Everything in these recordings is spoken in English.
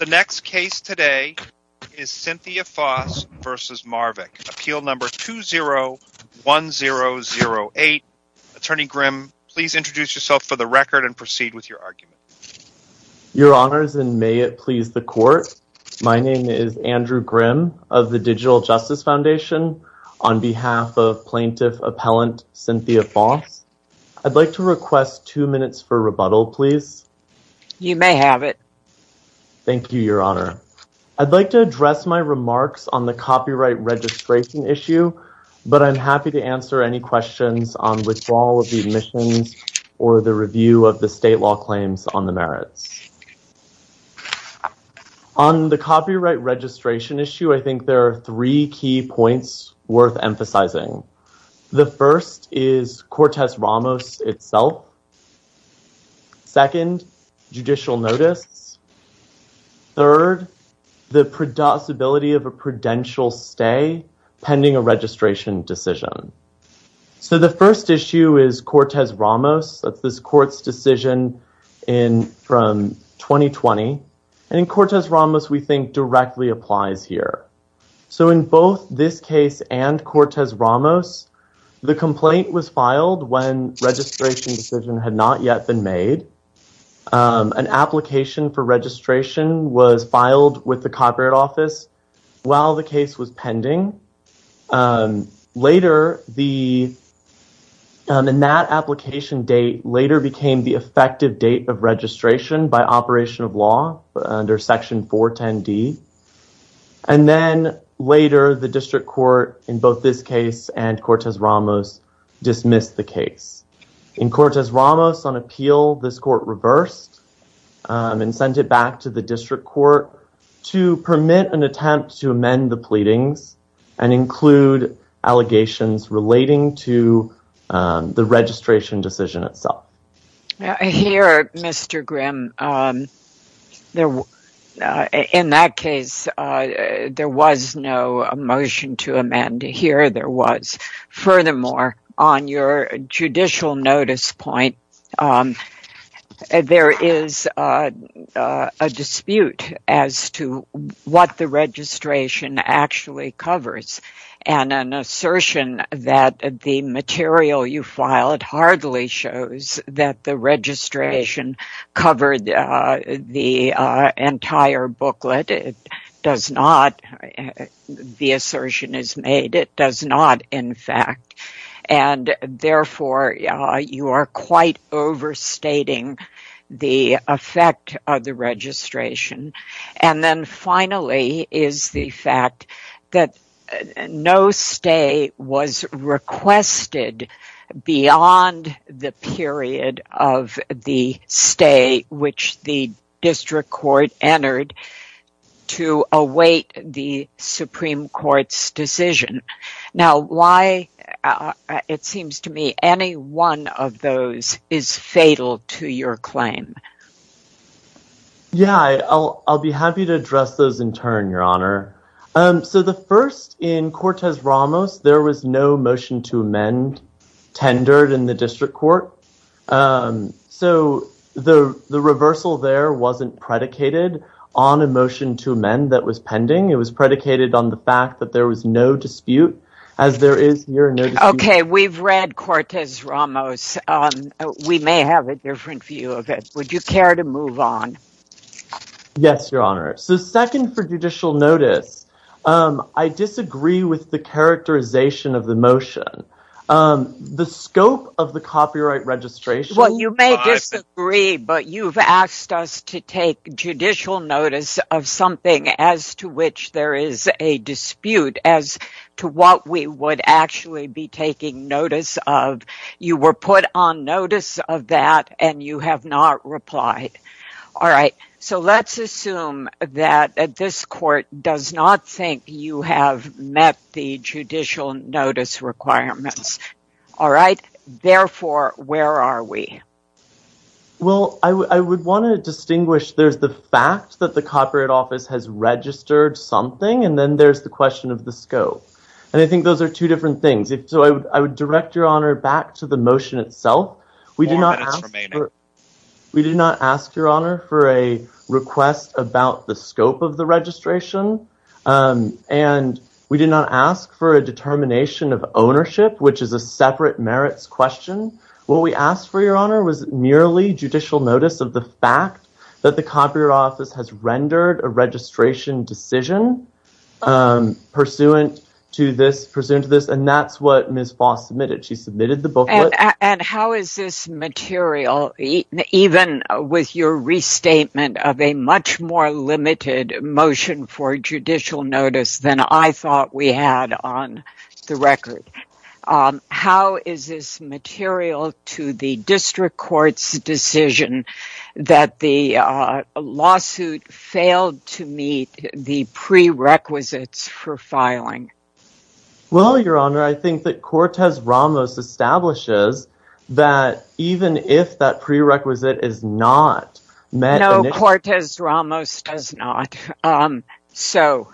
Appeal number 201008 Attorney Grimm, please introduce yourself for the record and proceed with your argument. Your Honors, and may it please the Court, my name is Andrew Grimm of the Digital Justice Foundation on behalf of Plaintiff Appellant Cynthia Foss. I'd like to request two minutes for rebuttal, please. You may have it. Thank you, Your Honor. I'd like to address my remarks on the copyright registration issue, but I'm happy to answer any questions on withdrawal of the admissions or the review of the state law claims on the merits. On the copyright registration issue, I think there are three key points worth emphasizing. The first is Cortez Ramos itself. Second, judicial notice. Third, the possibility of a prudential stay pending a registration decision. So the first issue is Cortez Ramos. That's this court's decision from 2020. And Cortez Ramos, we think, directly applies here. So in both this case and Cortez Ramos, the complaint was filed when registration decision had not yet been made. An application for registration was filed with the Copyright Office while the case was pending. Later, the in that application date later became the effective date of registration by operation of law under Section 410D. And then later, the district court in both this case and Cortez Ramos dismissed the case. In Cortez Ramos on appeal, this court reversed and sent it back to the district court to permit an attempt to amend the pleadings and include allegations relating to the registration decision itself. Here, Mr. Grimm, in that case, there was no motion to amend. Here there was. Furthermore, on your judicial notice point, there is a dispute as to what the registration actually covers. And an assertion that the material you filed hardly shows that the registration covered the entire booklet. It does not. The assertion is made it does not, in fact. And therefore, you are quite overstating the effect of the registration. And then finally is the fact that no stay was requested beyond the period of the stay which the district court entered to await the Supreme Court's decision. Now, why it seems to me any one of those is fatal to your claim. Yeah, I'll be happy to address those in turn, Your Honor. So the first in Cortez Ramos, there was no motion to amend tendered in the district court. So the reversal there wasn't predicated on a motion to amend that was pending. It was predicated on the fact that there was no dispute as there is here. OK, we've read Cortez Ramos. We may have a different view of it. Would you care to move on? Yes, Your Honor. So second for judicial notice, I disagree with the characterization of the motion. The scope of the copyright registration. Well, you may disagree, but you've asked us to take judicial notice of something as to which there is a dispute as to what we would actually be taking notice of. You were put on notice of that and you have not replied. All right. So let's assume that this court does not think you have met the judicial notice requirements. All right. Therefore, where are we? Well, I would want to distinguish. There's the fact that the Copyright Office has registered something. And then there's the question of the scope. And I think those are two different things. So I would direct your honor back to the motion itself. We do not ask your honor for a request about the scope of the registration. And we did not ask for a determination of ownership, which is a separate merits question. What we asked for, Your Honor, was merely judicial notice of the fact that the Copyright Office has rendered a registration decision pursuant to this. And that's what Ms. Foss submitted. She submitted the book. And how is this material even with your restatement of a much more limited motion for judicial notice than I thought we had on the record? How is this material to the district court's decision that the lawsuit failed to meet the prerequisites for filing? Well, Your Honor, I think that Cortez Ramos establishes that even if that prerequisite is not met. No, Cortez Ramos does not. So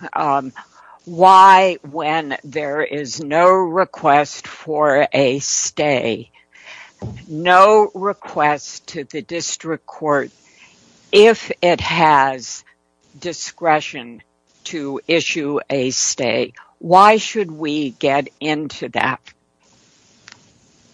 why, when there is no request for a stay, no request to the district court, if it has discretion to issue a stay, why should we get into that?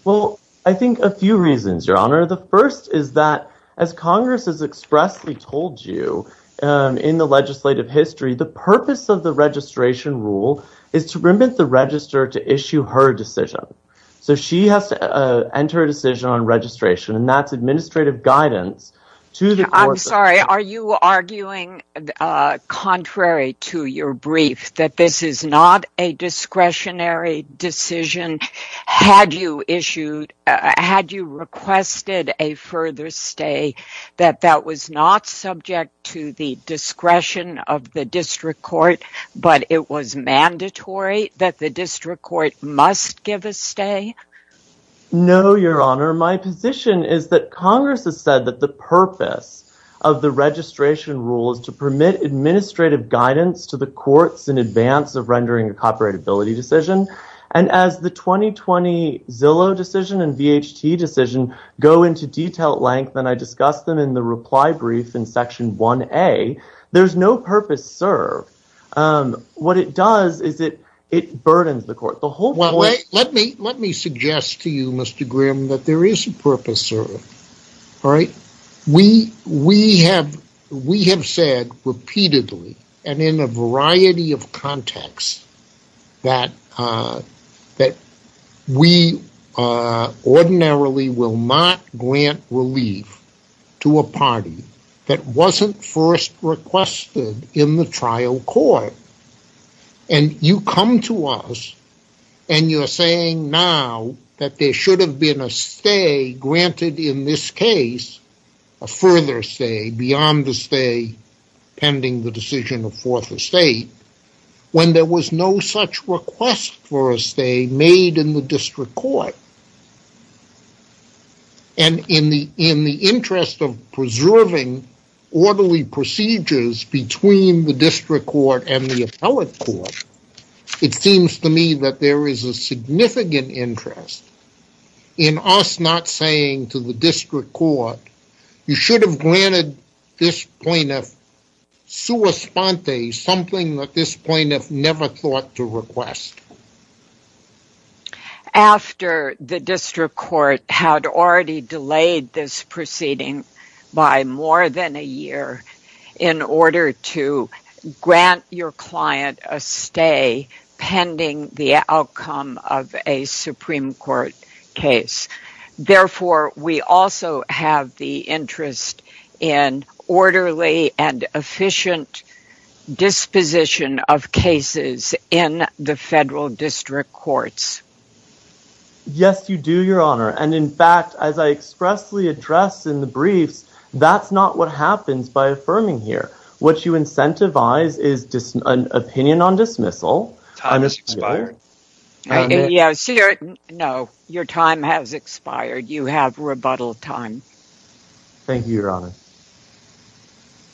Well, I think a few reasons, Your Honor. The first is that, as Congress has expressly told you in the legislative history, the purpose of the registration rule is to remit the register to issue her decision. So she has to enter a decision on registration, and that's administrative guidance to the court. I'm sorry. Are you arguing, contrary to your brief, that this is not a discretionary decision? Had you requested a further stay, that that was not subject to the discretion of the district court, but it was mandatory that the district court must give a stay? No, Your Honor. My position is that Congress has said that the purpose of the registration rule is to permit administrative guidance to the courts in advance of rendering a copyrightability decision. And as the 2020 Zillow decision and VHT decision go into detailed length, and I discussed them in the reply brief in Section 1A, there's no purpose served. What it does is it burdens the court. Let me suggest to you, Mr. Grimm, that there is a purpose served. We have said repeatedly, and in a variety of contexts, that we ordinarily will not grant relief to a party that wasn't first requested in the trial court. And you come to us, and you're saying now that there should have been a stay granted in this case, a further stay beyond the stay pending the decision of fourth estate, when there was no such request for a stay made in the district court. And in the interest of preserving orderly procedures between the district court and the appellate court, it seems to me that there is a significant interest in us not saying to the district court, you should have granted this plaintiff sua sponte, something that this plaintiff never thought to request. After the district court had already delayed this proceeding by more than a year in order to grant your client a stay pending the outcome of a Supreme Court case. Therefore, we also have the interest in orderly and efficient disposition of cases in the federal district courts. Yes, you do, Your Honor. And in fact, as I expressly address in the briefs, that's not what happens by affirming here. What you incentivize is an opinion on dismissal. Time has expired. No, your time has expired. You have rebuttal time. Thank you, Your Honor.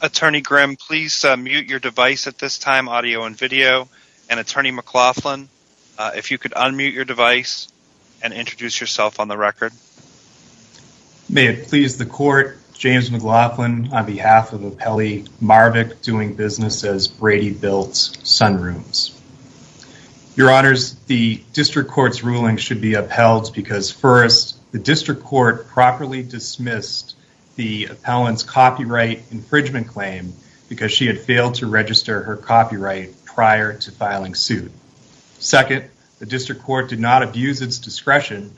Attorney Grimm, please mute your device at this time, audio and video. And Attorney McLaughlin, if you could unmute your device and introduce yourself on the record. May it please the court, James McLaughlin on behalf of Appellee Marvick doing business as Brady Bilt's Sun Rooms. Your Honors, the district court's ruling should be upheld because first, the district court properly dismissed the appellant's copyright infringement claim because she had failed to register her copyright prior to filing suit. Second, the district court did not abuse its discretion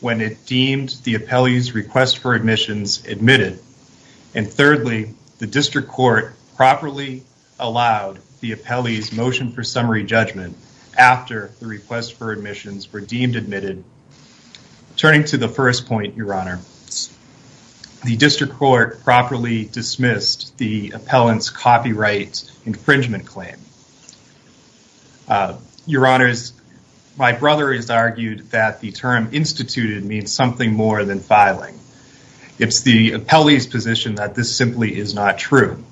when it deemed the appellee's request for admissions admitted. And thirdly, the district court properly allowed the appellee's motion for summary judgment after the request for admissions were deemed admitted. Turning to the first point, Your Honor, the district court properly dismissed the appellant's copyright infringement claim. Your Honors, my brother has argued that the term instituted means something more than filing. It's the appellee's position that this simply is not true.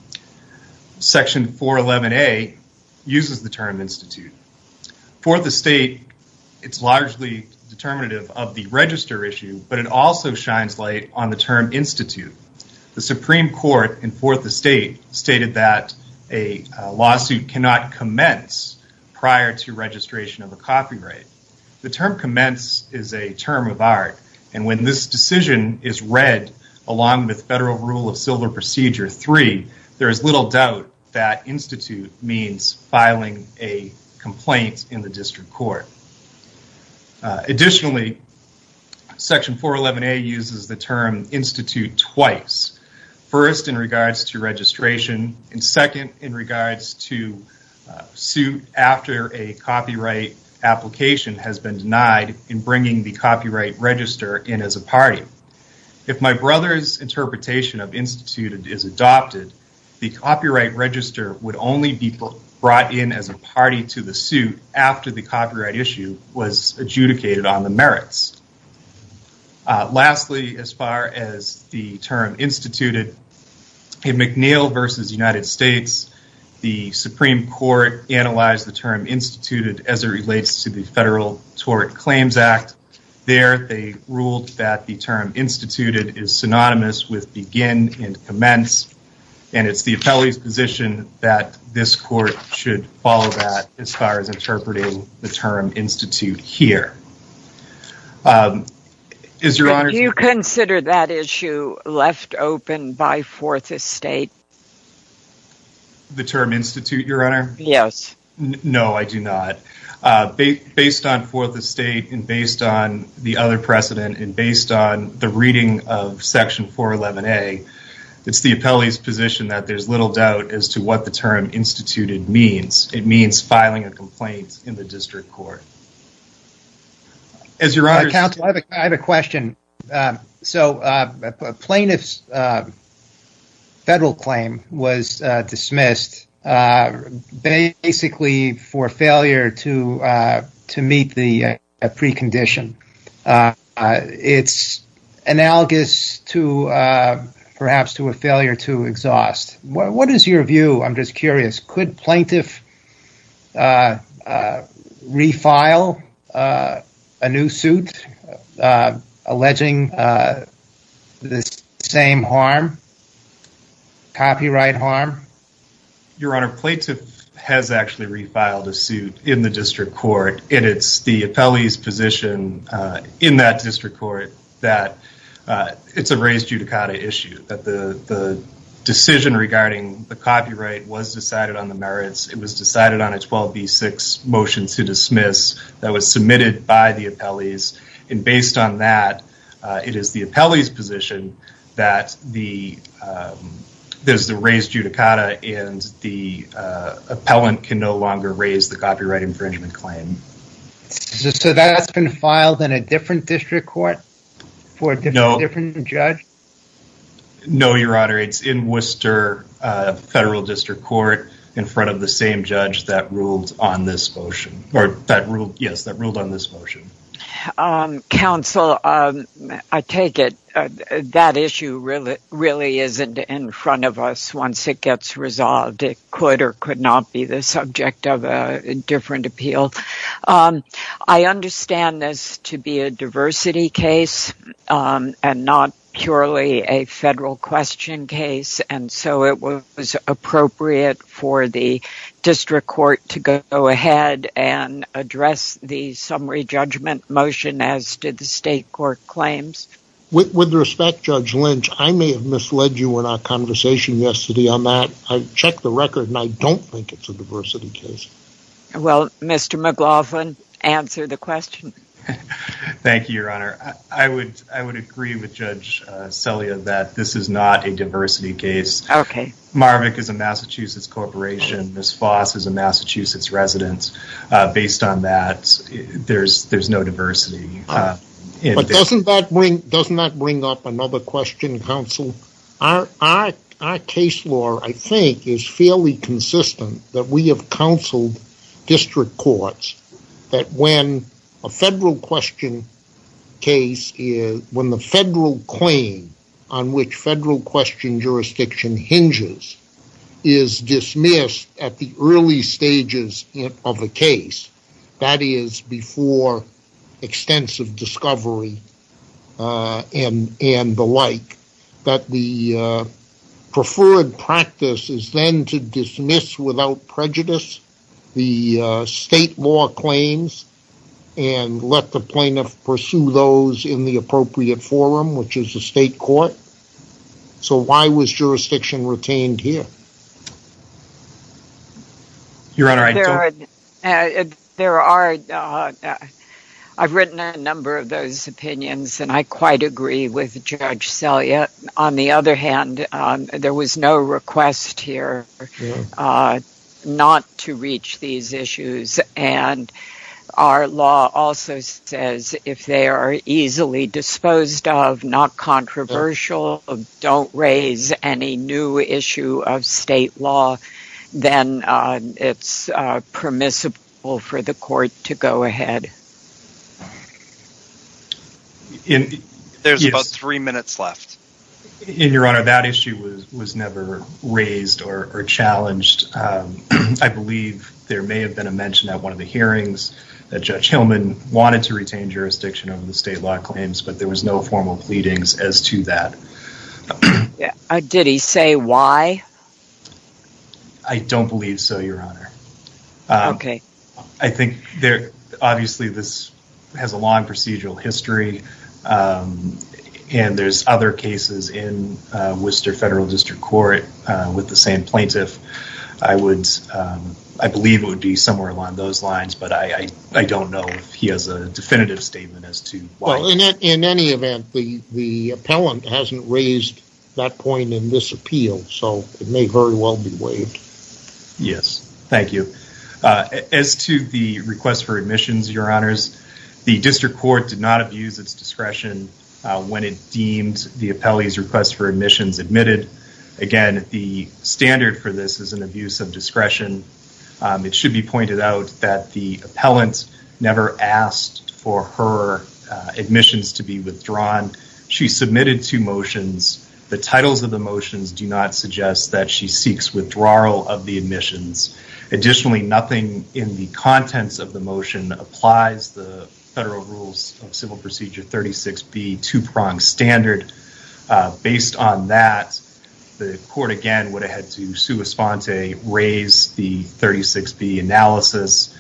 Section 411A uses the term institute. For the state, it's largely determinative of the register issue, but it also shines light on the term institute. The Supreme Court in Forth Estate stated that a lawsuit cannot commence prior to registration of a copyright. The term commence is a term of art, and when this decision is read along with Federal Rule of Civil Procedure 3, there is little doubt that institute means filing a complaint in the district court. Additionally, Section 411A uses the term institute twice. First in regards to registration, and second in regards to suit after a copyright application has been denied in bringing the copyright register in as a party. If my brother's interpretation of instituted is adopted, the copyright register would only be brought in as a party to the suit after the copyright issue was adjudicated on the merits. Lastly, as far as the term instituted, in McNeil v. United States, the Supreme Court analyzed the term instituted as it relates to the Federal Tort Claims Act. There, they ruled that the term instituted is synonymous with begin and commence, and it's the appellee's position that this court should follow that as far as interpreting the term institute here. Do you consider that issue left open by Fourth Estate? The term institute, Your Honor? Yes. No, I do not. Based on Fourth Estate, and based on the other precedent, and based on the reading of Section 411A, it's the appellee's position that there's little doubt as to what the term instituted means. It means filing a complaint in the district court. I have a question. A plaintiff's federal claim was dismissed basically for failure to meet the precondition. It's analogous perhaps to a failure to exhaust. What is your view? I'm just curious. Could plaintiff refile a new suit alleging the same harm, copyright harm? Your Honor, plaintiff has actually refiled a suit in the district court, and it's the appellee's position in that district court that it's a raised judicata issue. The decision regarding the copyright was decided on the merits. It was decided on a 12B6 motion to dismiss that was submitted by the appellees, and based on that, it is the appellee's position that there's the raised judicata and the appellant can no longer raise the copyright infringement claim. So that's been filed in a different district court for a different judge? No, Your Honor. It's in Worcester Federal District Court in front of the same judge that ruled on this motion. Counsel, I take it that issue really isn't in front of us once it gets resolved. It could or could not be the subject of a different appeal. I understand this to be a diversity case and not purely a federal question case, and so it was appropriate for the district court to go ahead and address the summary judgment motion, as did the state court claims. With respect, Judge Lynch, I may have misled you in our conversation yesterday on that. I checked the record, and I don't think it's a diversity case. Well, Mr. McLaughlin, answer the question. Thank you, Your Honor. I would agree with Judge Celia that this is not a diversity case. Okay. Marvick is a Massachusetts corporation. Ms. Foss is a Massachusetts resident. Based on that, there's no diversity. But doesn't that bring up another question, Counsel? Our case law, I think, is fairly consistent that we have counseled district courts that when a federal question case, when the federal claim on which federal question jurisdiction hinges is dismissed at the early stages of a case, that is before extensive discovery and the like, that the preferred practice is then to dismiss without prejudice the state law claims and let the plaintiff pursue those in the appropriate forum, which is the state court. So why was jurisdiction retained here? Your Honor, I... On the other hand, there was no request here not to reach these issues. And our law also says if they are easily disposed of, not controversial, don't raise any new issue of state law, then it's permissible for the court to go ahead. There's about three minutes left. Your Honor, that issue was never raised or challenged. I believe there may have been a mention at one of the hearings that Judge Hillman wanted to retain jurisdiction over the state law claims, but there was no formal pleadings as to that. Did he say why? I don't believe so, Your Honor. Okay. I think obviously this has a long procedural history, and there's other cases in Worcester Federal District Court with the same plaintiff. I believe it would be somewhere along those lines, but I don't know if he has a definitive statement as to why. Well, in any event, the appellant hasn't raised that point in this appeal, so it may very well be waived. Yes. Thank you. As to the request for admissions, Your Honors, the District Court did not abuse its discretion when it deemed the appellee's request for admissions admitted. Again, the standard for this is an abuse of discretion. It should be pointed out that the appellant never asked for her admissions to be withdrawn. She submitted two motions. The titles of the motions do not suggest that she seeks withdrawal of the admissions. Additionally, nothing in the contents of the motion applies the Federal Rules of Civil Procedure 36B two-prong standard. Based on that, the court, again, would have had to sui sponte, raise the 36B analysis.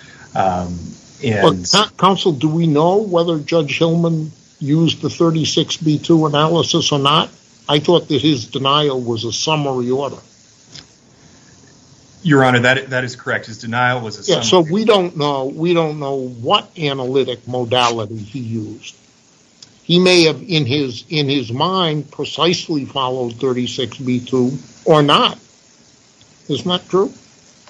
Counsel, do we know whether Judge Hillman used the 36B analysis or not? I thought that his denial was a summary order. Your Honor, that is correct. His denial was a summary order. So we don't know what analytic modality he used. He may have, in his mind, precisely followed 36B two or not. Isn't that true?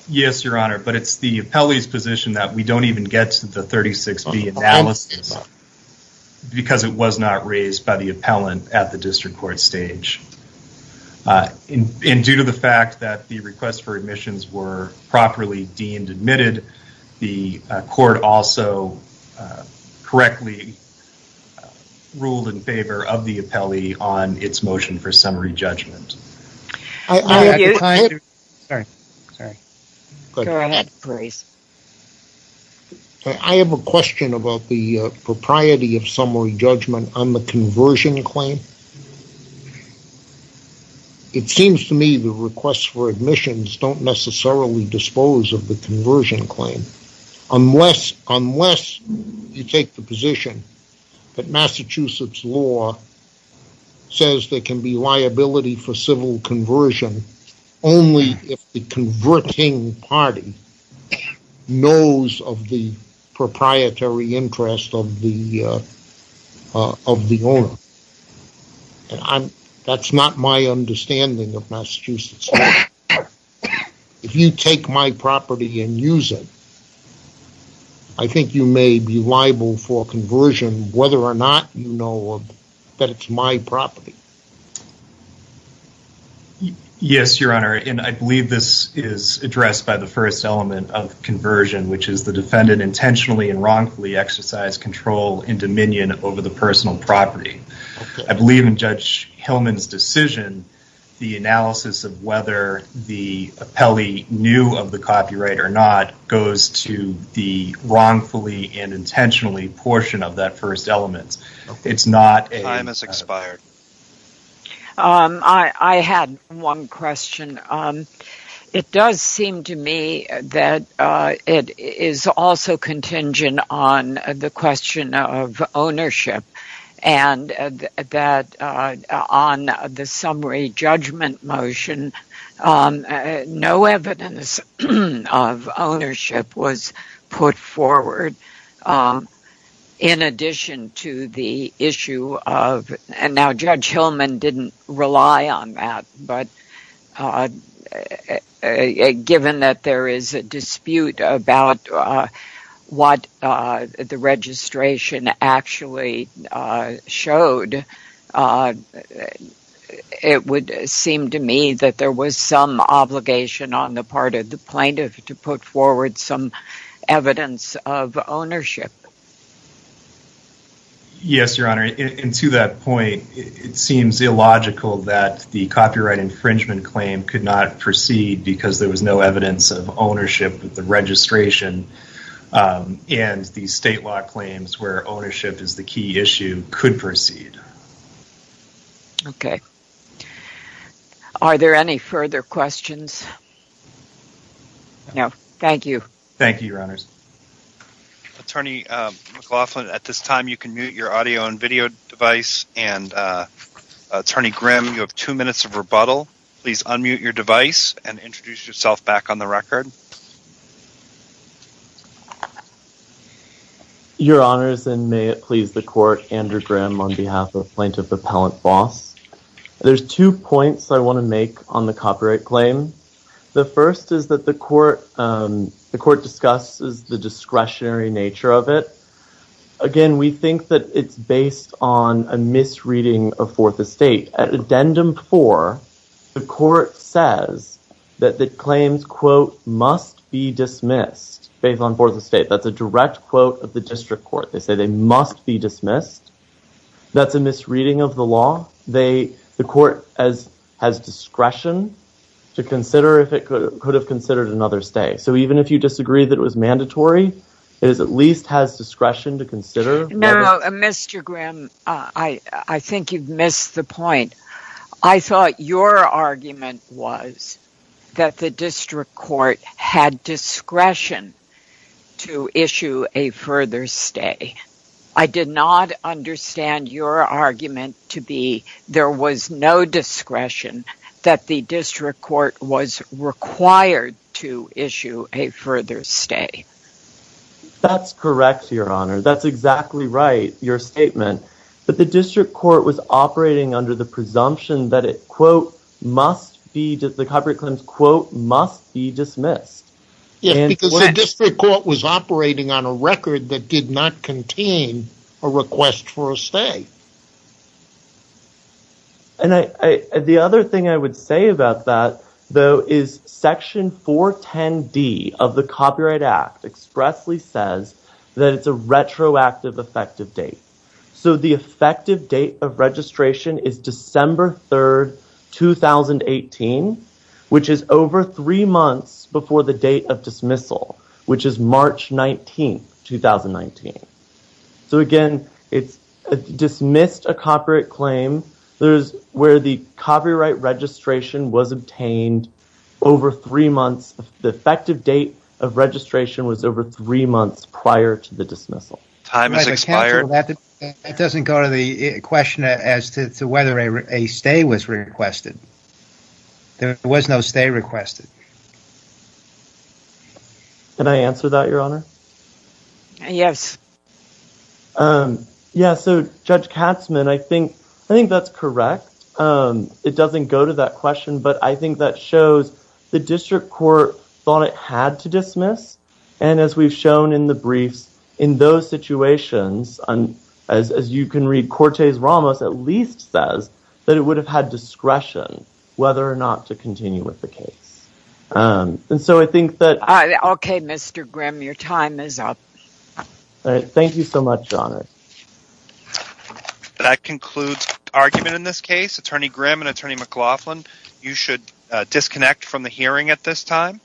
Yes, Your Honor, but it's the appellee's position that we don't even get to the 36B analysis because it was not raised by the appellant at the District Court stage. Due to the fact that the request for admissions were properly deemed and admitted, the court also correctly ruled in favor of the appellee on its motion for summary judgment. I have a question about the propriety of summary judgment on the conversion claim. It seems to me the request for admissions don't necessarily dispose of the conversion claim. Unless you take the position that Massachusetts law says there can be liability for civil conversion only if the converting party knows of the proprietary interest of the owner. That's not my understanding of Massachusetts law. If you take my property and use it, I think you may be liable for conversion whether or not you know that it's my property. Yes, Your Honor, and I believe this is addressed by the first element of conversion, which is the defendant intentionally and wrongfully exercised control and dominion over the personal property. I believe in Judge Hillman's decision, the analysis of whether the appellee knew of the copyright or not goes to the wrongfully and intentionally portion of that first element. Time has expired. I had one question. It does seem to me that it is also contingent on the question of ownership and that on the summary judgment motion, no evidence of ownership was put forward. In addition to the issue of, and now Judge Hillman didn't rely on that, but given that there is a dispute about what the registration actually showed, it would seem to me that there was some obligation on the part of the plaintiff to put forward some evidence of ownership. Yes, Your Honor, and to that point, it seems illogical that the copyright infringement claim could not proceed because there was no evidence of ownership with the registration and the state law claims where ownership is the key issue could proceed. Okay. Are there any further questions? No. Thank you. Thank you, Your Honors. Attorney McLaughlin, at this time you can mute your audio and video device, and Attorney Grimm, you have two minutes of rebuttal. Please unmute your device and introduce yourself back on the record. Your Honors, and may it please the Court, Andrew Grimm on behalf of Plaintiff Appellant Boss. There's two points I want to make on the copyright claim. The first is that the Court discusses the discretionary nature of it. Again, we think that it's based on a misreading of Fourth Estate. At Addendum 4, the Court says that the claims, quote, must be dismissed based on Fourth Estate. That's a direct quote of the District Court. They say they must be dismissed. That's a misreading of the law. The Court has discretion to consider if it could have considered another stay. So even if you disagree that it was mandatory, it at least has discretion to consider. Now, Mr. Grimm, I think you've missed the point. I thought your argument was that the District Court had discretion to issue a further stay. I did not understand your argument to be there was no discretion that the District Court was required to issue a further stay. That's correct, Your Honor. That's exactly right, your statement. But the District Court was operating under the presumption that it, quote, must be, the copyright claims, quote, must be dismissed. Yes, because the District Court was operating on a record that did not contain a request for a stay. And the other thing I would say about that, though, is Section 410D of the Copyright Act expressly says that it's a retroactive effective date. So the effective date of registration is December 3rd, 2018, which is over three months before the date of dismissal, which is March 19th, 2019. So again, it's dismissed a copyright claim. There's where the copyright registration was obtained over three months. The effective date of registration was over three months prior to the dismissal. It doesn't go to the question as to whether a stay was requested. There was no stay requested. Can I answer that, Your Honor? Yes. Yeah. So, Judge Katzmann, I think I think that's correct. It doesn't go to that question, but I think that shows the District Court thought it had to dismiss. And as we've shown in the briefs, in those situations, as you can read, Cortes-Ramos at least says that it would have had discretion whether or not to continue with the case. And so I think that. OK, Mr. Grimm, your time is up. All right. Thank you so much, Your Honor. That concludes argument in this case. Attorney Grimm and Attorney McLaughlin, you should disconnect from the hearing at this time.